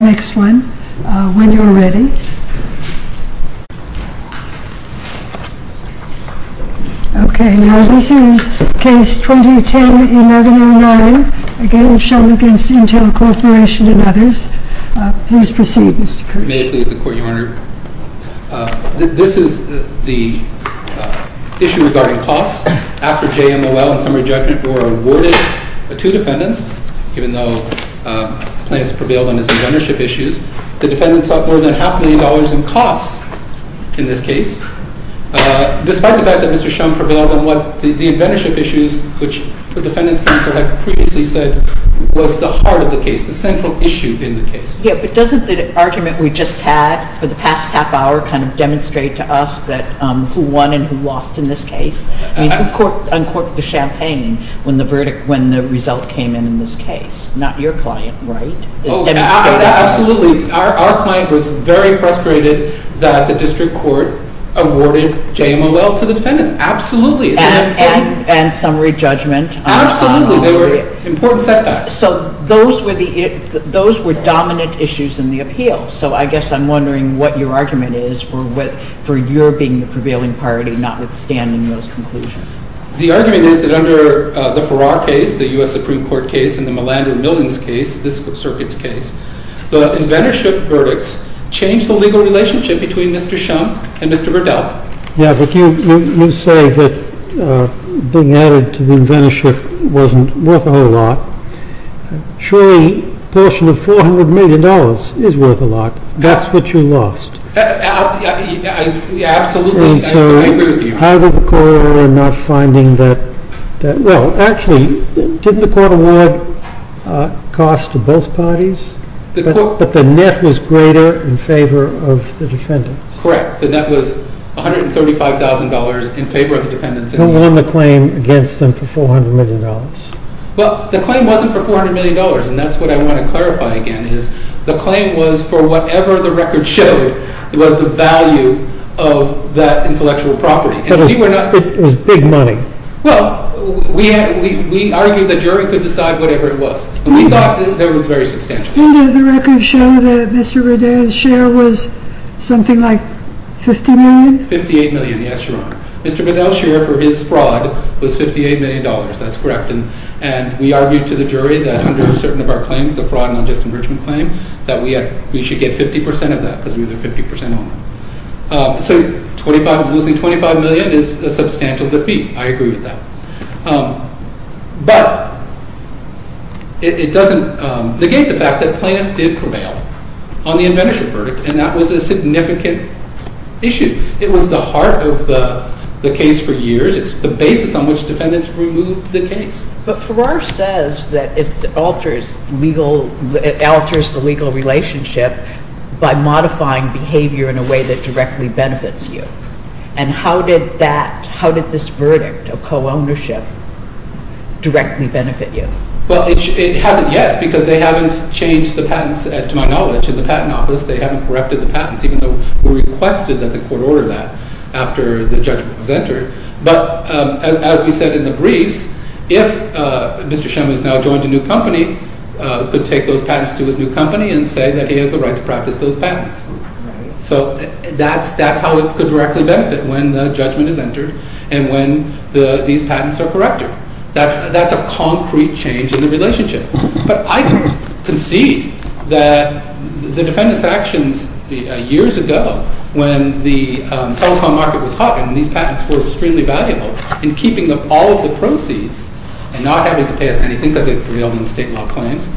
May I please the Court, Your Honor? This is the issue regarding costs. After JMOL and the defendants sought more than half a million dollars in costs in this case, despite the fact that Mr. Shum prevailed on what the apprenticeship issues, which the defendants counsel had previously said, was the heart of the case, the central issue in the case. Yeah, but doesn't the argument we just had for the past half hour kind of demonstrate to us that who won and who lost in this case? I mean, who uncorked the champagne when the verdict, when the result came in in this case? Not your client, right? Absolutely. Our client was very frustrated that the district court awarded JMOL to the defendants. Absolutely. And summary judgment. Absolutely. They were important setbacks. So those were dominant issues in the appeal. So I guess I'm wondering what your argument is for your being the prevailing party, notwithstanding those conclusions. The argument is that under the Farrar case, the U.S. Supreme Court case, and the Millander-Millings case, this circuit's case, the inventorship verdicts changed the legal relationship between Mr. Shum and Mr. Verdell. Yeah, but you say that being added to the inventorship wasn't worth a whole lot. Surely a portion of $400 million is worth a lot. That's what you lost. Absolutely. I agree with you. And so how did the court order not finding that? Well, actually, didn't the court award cost to both parties? But the net was greater in favor of the defendants. Correct. The net was $135,000 in favor of the defendants. Who won the claim against them for $400 million? Well, the claim wasn't for $400 million, and that's what I want to clarify again, is the claim was for whatever the record showed was the value of that intellectual property. But it was big money. Well, we argued the jury could decide whatever it was, and we thought that was very substantial. Didn't the record show that Mr. Verdell's share was something like $50 million? $58 million, yes, Your Honor. Mr. Verdell's share for his fraud was $58 million. That's correct. And we argued to the jury that under certain of our claims, the fraud and unjust enrichment claim, that we should get 50% of that because we were the 50% owner. So losing $25 million is a substantial defeat. I agree with that. But it doesn't negate the fact that plaintiffs did prevail on the inventorship verdict, and that was a significant issue. It was the heart of the case for years. It's the basis on which defendants removed the case. But Farrar says that it alters the legal relationship by modifying behavior in a way that directly benefits you. And how did this verdict of co-ownership directly benefit you? Well, it hasn't yet because they haven't changed the patents, to my knowledge. In the patent office, they haven't corrected the patents, even though we requested that the court order that after the judgment was entered. But as we said in the briefs, if Mr. Shemin has now joined a new company, he could take those patents to his new company and say that he has the right to practice those patents. So that's how it could directly benefit, when the judgment is entered and when these patents are corrected. That's a concrete change in the relationship. But I concede that the defendants' actions years ago, when the telecom market was hot and these patents were extremely valuable, and keeping all of the proceeds and not having to pay us anything because they prevailed in state law claims,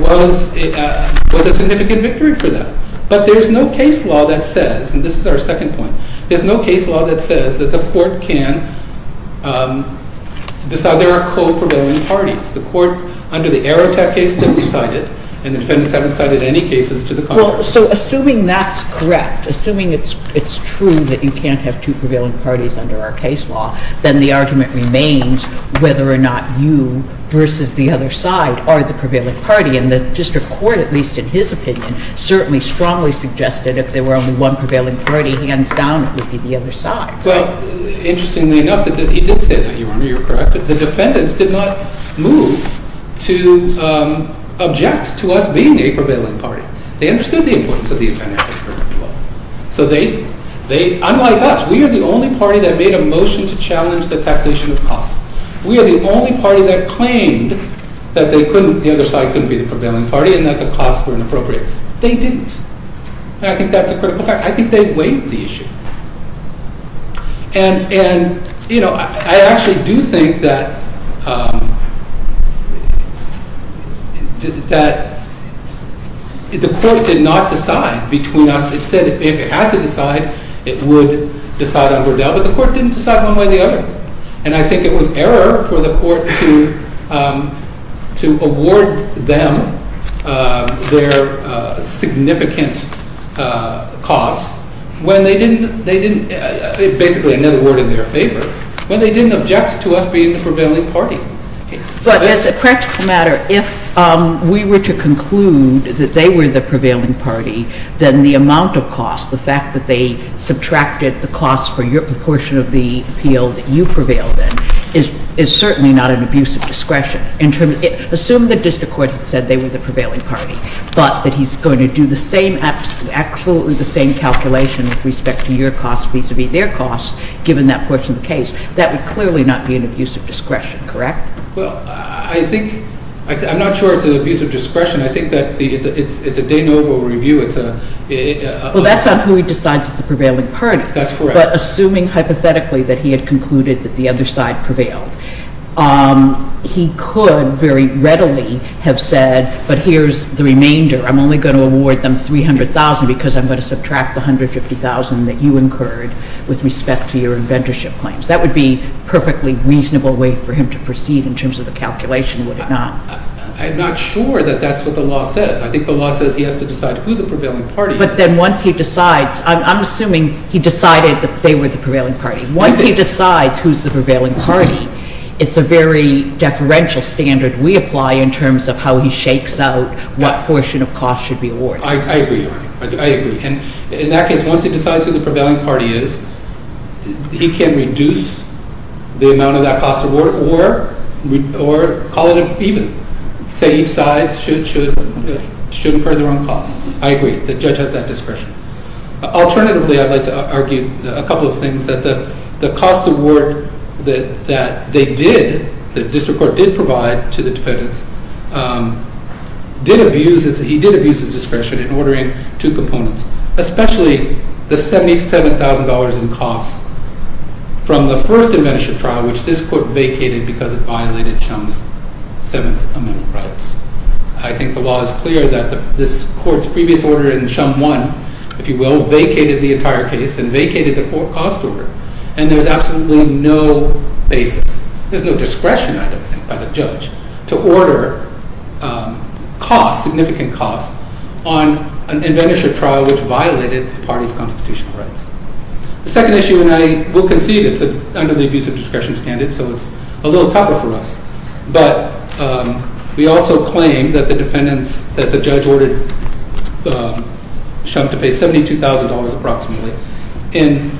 was a significant victory for them. But there's no case law that says, and this is our second point, there's no case law that says that the court can decide there are co-prevailing parties. The court, under the Air Attack case that we cited, and the defendants haven't cited any cases to the contrary. Well, so assuming that's correct, assuming it's true that you can't have two prevailing parties under our case law, then the argument remains whether or not you versus the other side are the prevailing party. And the district court, at least in his opinion, certainly strongly suggested if there were only one prevailing party, hands down, it would be the other side. Well, interestingly enough, he did say that, Your Honor. You're correct. The defendants did not move to object to us being the prevailing party. They understood the importance of the international agreement. So they, unlike us, we are the only party that made a motion to challenge the taxation of costs. We are the only party that claimed that the other side couldn't be the prevailing party and that the costs were inappropriate. They didn't. And I think that's a critical fact. I think they weighed the issue. And, you know, I actually do think that the court did not decide between us. It said if it had to decide, it would decide on Burdell, but the court didn't decide one way or the other. And I think it was error for the court to award them their significant costs when they didn't, basically another word in their favor, when they didn't object to us being the prevailing party. But as a practical matter, if we were to conclude that they were the prevailing party, then the amount of costs, the fact that they subtracted the costs for your portion of the appeal that you prevailed in, is certainly not an abuse of discretion. Assume the district court had said they were the prevailing party, but that he's going to do the same, absolutely the same calculation with respect to your costs vis-à-vis their costs, given that portion of the case. That would clearly not be an abuse of discretion, correct? Well, I think, I'm not sure it's an abuse of discretion. I think that it's a de novo review. Well, that's on who he decides is the prevailing party. That's correct. But assuming hypothetically that he had concluded that the other side prevailed, he could very readily have said, but here's the remainder. I'm only going to award them $300,000 because I'm going to subtract the $150,000 that you incurred with respect to your inventorship claims. That would be a perfectly reasonable way for him to proceed in terms of the calculation, would it not? I'm not sure that that's what the law says. I think the law says he has to decide who the prevailing party is. But then once he decides, I'm assuming he decided that they were the prevailing party. Once he decides who's the prevailing party, it's a very deferential standard we apply in terms of how he shakes out what portion of costs should be awarded. I agree. I agree. And in that case, once he decides who the prevailing party is, he can reduce the amount of that cost award or call it even. Say each side should incur their own cost. I agree. The judge has that discretion. Alternatively, I'd like to argue a couple of things. The cost award that they did, the district court did provide to the defendants, he did abuse his discretion in ordering two components, especially the $77,000 in costs from the first inventorship trial, which this court vacated because it violated Shum's Seventh Amendment rights. I think the law is clear that this court's previous order in Shum 1, if you will, vacated the entire case and vacated the cost order. And there's absolutely no basis, there's no discretion, I don't think, by the judge to order significant costs on an inventorship trial which violated the party's constitutional rights. The second issue, and I will concede it's under the abuse of discretion standard, so it's a little tougher for us. But we also claim that the judge ordered Shum to pay $72,000 approximately in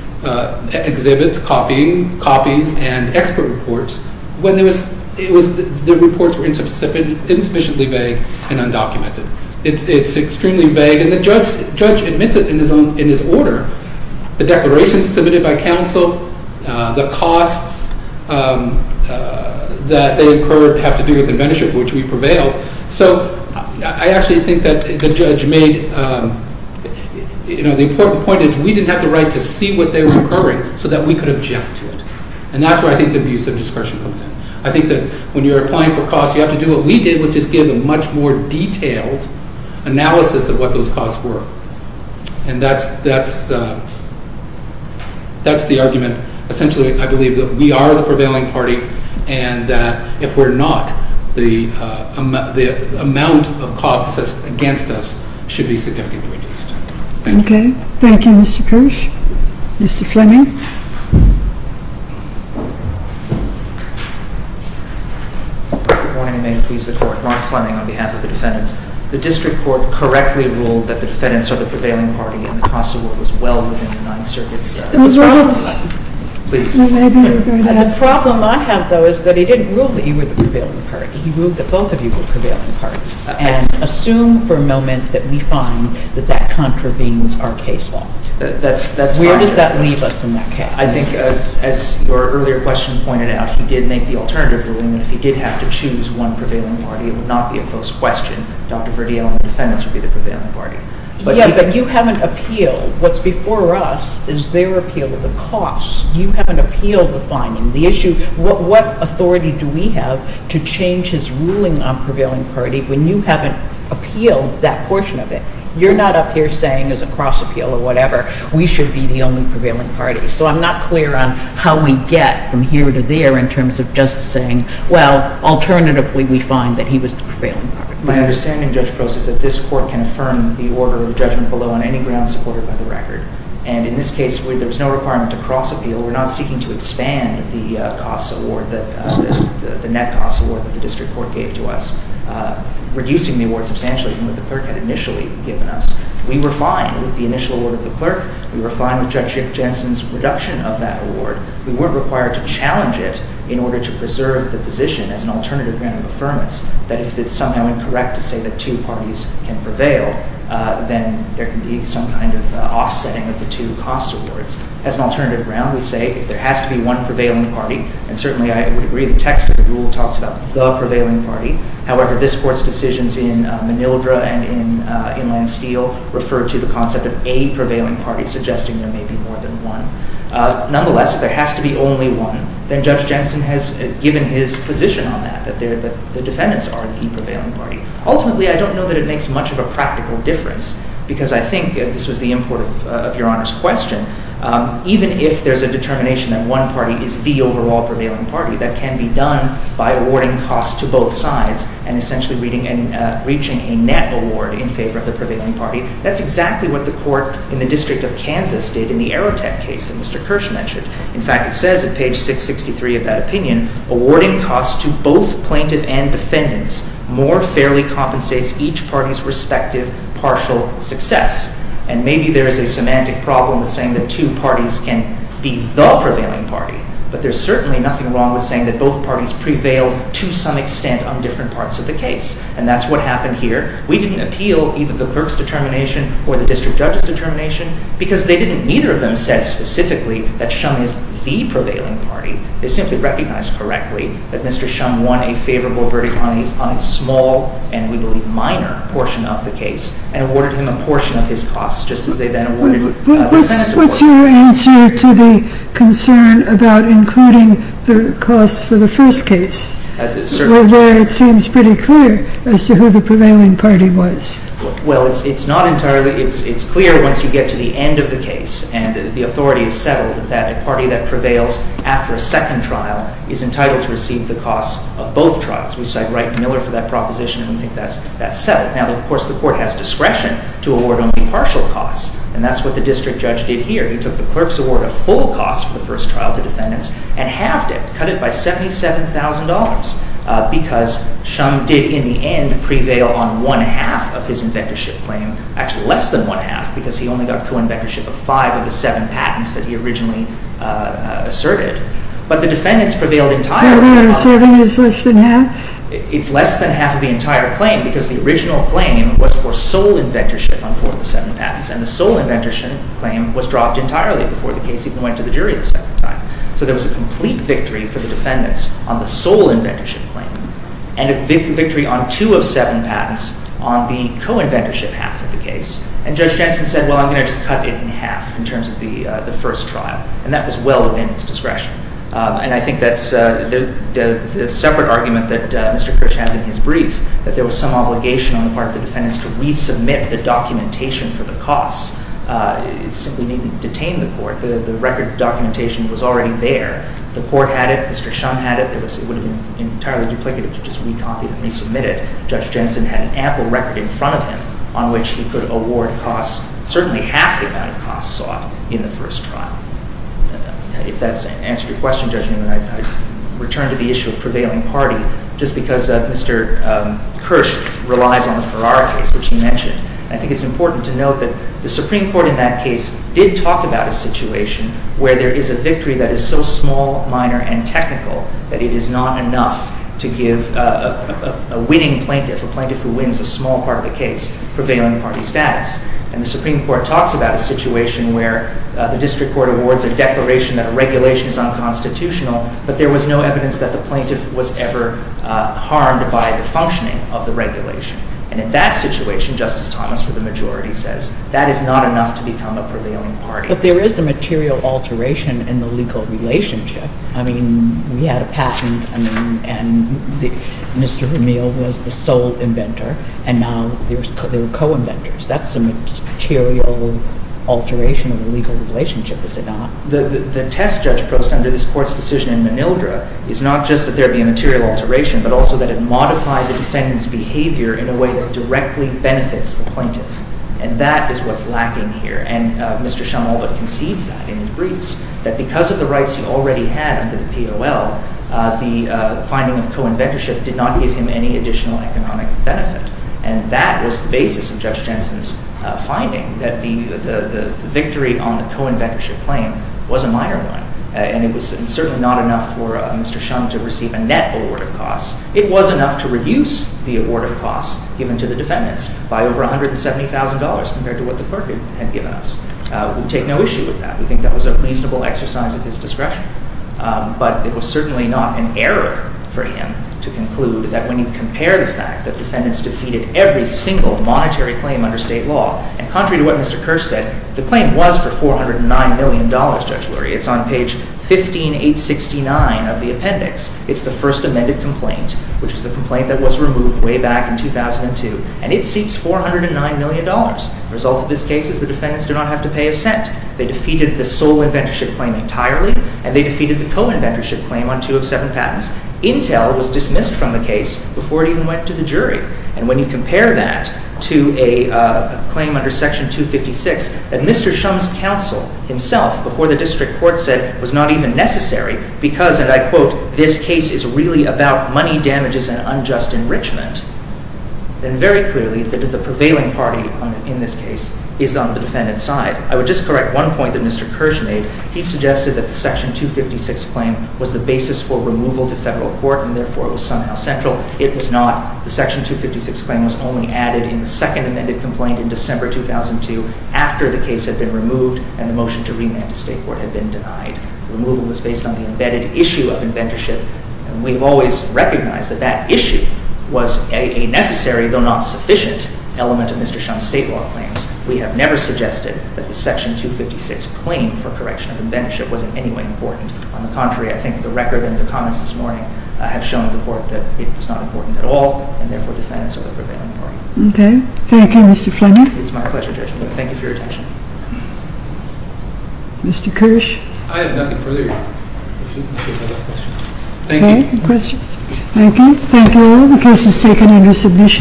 exhibits, copies, and expert reports when the reports were insufficiently vague and undocumented. It's extremely vague, and the judge admits it in his order. The declarations submitted by counsel, the costs that they incurred have to do with inventorship, which we prevailed. So I actually think that the judge made, you know, the important point is we didn't have the right to see what they were incurring so that we could object to it. And that's where I think the abuse of discretion comes in. I think that when you're applying for costs, you have to do what we did, which is give a much more detailed analysis of what those costs were. And that's the argument. Essentially, I believe that we are the prevailing party and that if we're not, the amount of costs against us should be significantly reduced. Okay. Thank you, Mr. Kirsch. Mr. Fleming? Good morning. May it please the Court? Mark Fleming on behalf of the defendants. The district court correctly ruled that the defendants are the prevailing party and the cost of what was well within the Ninth Circuit's discretion. Those are us. Please. The problem I have, though, is that he didn't rule that you were the prevailing party. He ruled that both of you were prevailing parties. And assume for a moment that we find that that contravenes our case law. That's contrary. Where does that leave us in that case? I think, as your earlier question pointed out, he did make the alternative ruling that if he did have to choose one prevailing party, it would not be a close question. Dr. Verdiel and the defendants would be the prevailing party. Yeah, but you haven't appealed. What's before us is their appeal, the cost. You haven't appealed the finding, the issue. What authority do we have to change his ruling on prevailing party when you haven't appealed that portion of it? You're not up here saying as a cross appeal or whatever, we should be the only prevailing party. So I'm not clear on how we get from here to there in terms of just saying, well, alternatively, we find that he was the prevailing party. My understanding, Judge Prost, is that this court can affirm the order of judgment below on any grounds supported by the record. And in this case, there was no requirement to cross appeal. We're not seeking to expand the net cost award that the district court gave to us, reducing the award substantially from what the clerk had initially given us. We were fine with the initial award of the clerk. We were fine with Judge Jensen's reduction of that award. We weren't required to challenge it in order to preserve the position as an alternative ground of affirmance that if it's somehow incorrect to say that two parties can prevail, then there can be some kind of offsetting of the two cost awards. As an alternative ground, we say if there has to be one prevailing party, and certainly I would agree the text of the rule talks about the prevailing party. However, this court's decisions in Manildra and in Inland Steel refer to the concept of a prevailing party, suggesting there may be more than one. Nonetheless, if there has to be only one, then Judge Jensen has given his position on that, that the defendants are the prevailing party. Ultimately, I don't know that it makes much of a practical difference, because I think, and this was the import of Your Honor's question, even if there's a determination that one party is the overall prevailing party, that can be done by awarding costs to both sides and essentially reaching a net award in favor of the prevailing party. That's exactly what the court in the District of Kansas did in the Aerotech case that Mr. Kirsch mentioned. In fact, it says at page 663 of that opinion, awarding costs to both plaintiff and defendants more fairly compensates each party's respective partial success. And maybe there is a semantic problem with saying that two parties can be the prevailing party, but there's certainly nothing wrong with saying that both parties prevailed to some extent on different parts of the case, and that's what happened here. We didn't appeal either the clerk's determination or the district judge's determination, because they didn't, neither of them said specifically that Shum is the prevailing party. They simply recognized correctly that Mr. Shum won a favorable verdict on a small, and we believe minor, portion of the case, and awarded him a portion of his costs, just as they then awarded the defense award. What's your answer to the concern about including the costs for the first case? Although it seems pretty clear as to who the prevailing party was. Well, it's not entirely—it's clear once you get to the end of the case, and the authority is settled, that a party that prevails after a second trial is entitled to receive the costs of both trials. We cite Wright and Miller for that proposition, and we think that's settled. Now, of course, the court has discretion to award only partial costs, and that's what the district judge did here. He took the clerk's award of full costs for the first trial to defendants and halved it, cut it by $77,000, because Shum did, in the end, prevail on one-half of his inventorship claim—actually, less than one-half, because he only got co-inventorship of five of the seven patents that he originally asserted. But the defendants prevailed entirely on— So the asserting is less than half? It's less than half of the entire claim, because the original claim was for sole inventorship on four of the seven patents, and the sole inventorship claim was dropped entirely before the case even went to the jury the second time. So there was a complete victory for the defendants on the sole inventorship claim, and a victory on two of seven patents on the co-inventorship half of the case, and Judge Jensen said, well, I'm going to just cut it in half in terms of the first trial, and that was well within its discretion. And I think that's the separate argument that Mr. Kirsch has in his brief, that there was some obligation on the part of the defendants to resubmit the documentation for the costs. It simply didn't detain the court. The record documentation was already there. The court had it. Mr. Shum had it. It would have been entirely duplicative to just recopy it and resubmit it. Judge Jensen had an ample record in front of him on which he could award costs, certainly half the amount of costs sought in the first trial. If that's answered your question, Judge Newman, I'd return to the issue of prevailing party. Just because Mr. Kirsch relies on the Ferrara case, which he mentioned, I think it's important to note that the Supreme Court in that case did talk about a situation where there is a victory that is so small, minor, and technical that it is not enough to give a winning plaintiff, a plaintiff who wins a small part of the case, prevailing party status. And the Supreme Court talks about a situation where the district court awards a declaration that a regulation is unconstitutional, but there was no evidence that the plaintiff was ever harmed by the functioning of the regulation. And in that situation, Justice Thomas, for the majority, says that is not enough to become a prevailing party. But there is a material alteration in the legal relationship. I mean, we had a patent, and Mr. O'Neill was the sole inventor, and now there are co-inventors. That's a material alteration of the legal relationship, is it not? The test Judge Post under this Court's decision in Manildra is not just that there be a material alteration, but also that it modified the defendant's behavior in a way that directly benefits the plaintiff. And that is what's lacking here. And Mr. Shumwald concedes that in his briefs, that because of the rights he already had under the POL, the finding of co-inventorship did not give him any additional economic benefit. And that was the basis of Judge Jensen's finding, that the victory on the co-inventorship claim was a minor one. And it was certainly not enough for Mr. Shum to receive a net award of costs. It was enough to reduce the award of costs given to the defendants by over $170,000 compared to what the Court had given us. We take no issue with that. We think that was a reasonable exercise of his discretion. But it was certainly not an error for him to conclude that when you compare the fact that defendants defeated every single monetary claim under state law, and contrary to what Mr. Kirsch said, the claim was for $409 million, Judge Lurie. It's on page 15869 of the appendix. It's the first amended complaint, which was the complaint that was removed way back in 2002. And it seeks $409 million. The result of this case is the defendants do not have to pay a cent. They defeated the sole inventorship claim entirely, and they defeated the co-inventorship claim on two of seven patents. Intel was dismissed from the case before it even went to the jury. And when you compare that to a claim under Section 256 that Mr. Shum's counsel himself, before the district court, said was not even necessary because, and I quote, this case is really about money damages and unjust enrichment, then very clearly the prevailing party in this case is on the defendant's side. I would just correct one point that Mr. Kirsch made. He suggested that the Section 256 claim was the basis for removal to federal court, and therefore it was somehow central. It was not. The Section 256 claim was only added in the second amended complaint in December 2002 after the case had been removed and the motion to remand to state court had been denied. Removal was based on the embedded issue of inventorship, and we've always recognized that that issue was a necessary, though not sufficient, element of Mr. Shum's state law claims. We have never suggested that the Section 256 claim for correction of inventorship was in any way important. On the contrary, I think the record and the comments this morning have shown the court that it was not important at all, and therefore the defendants are the prevailing party. Okay. Thank you, Mr. Fleming. It's my pleasure, Judge. Thank you for your attention. Mr. Kirsch. I have nothing further. Thank you. Thank you. The case is taken under submission.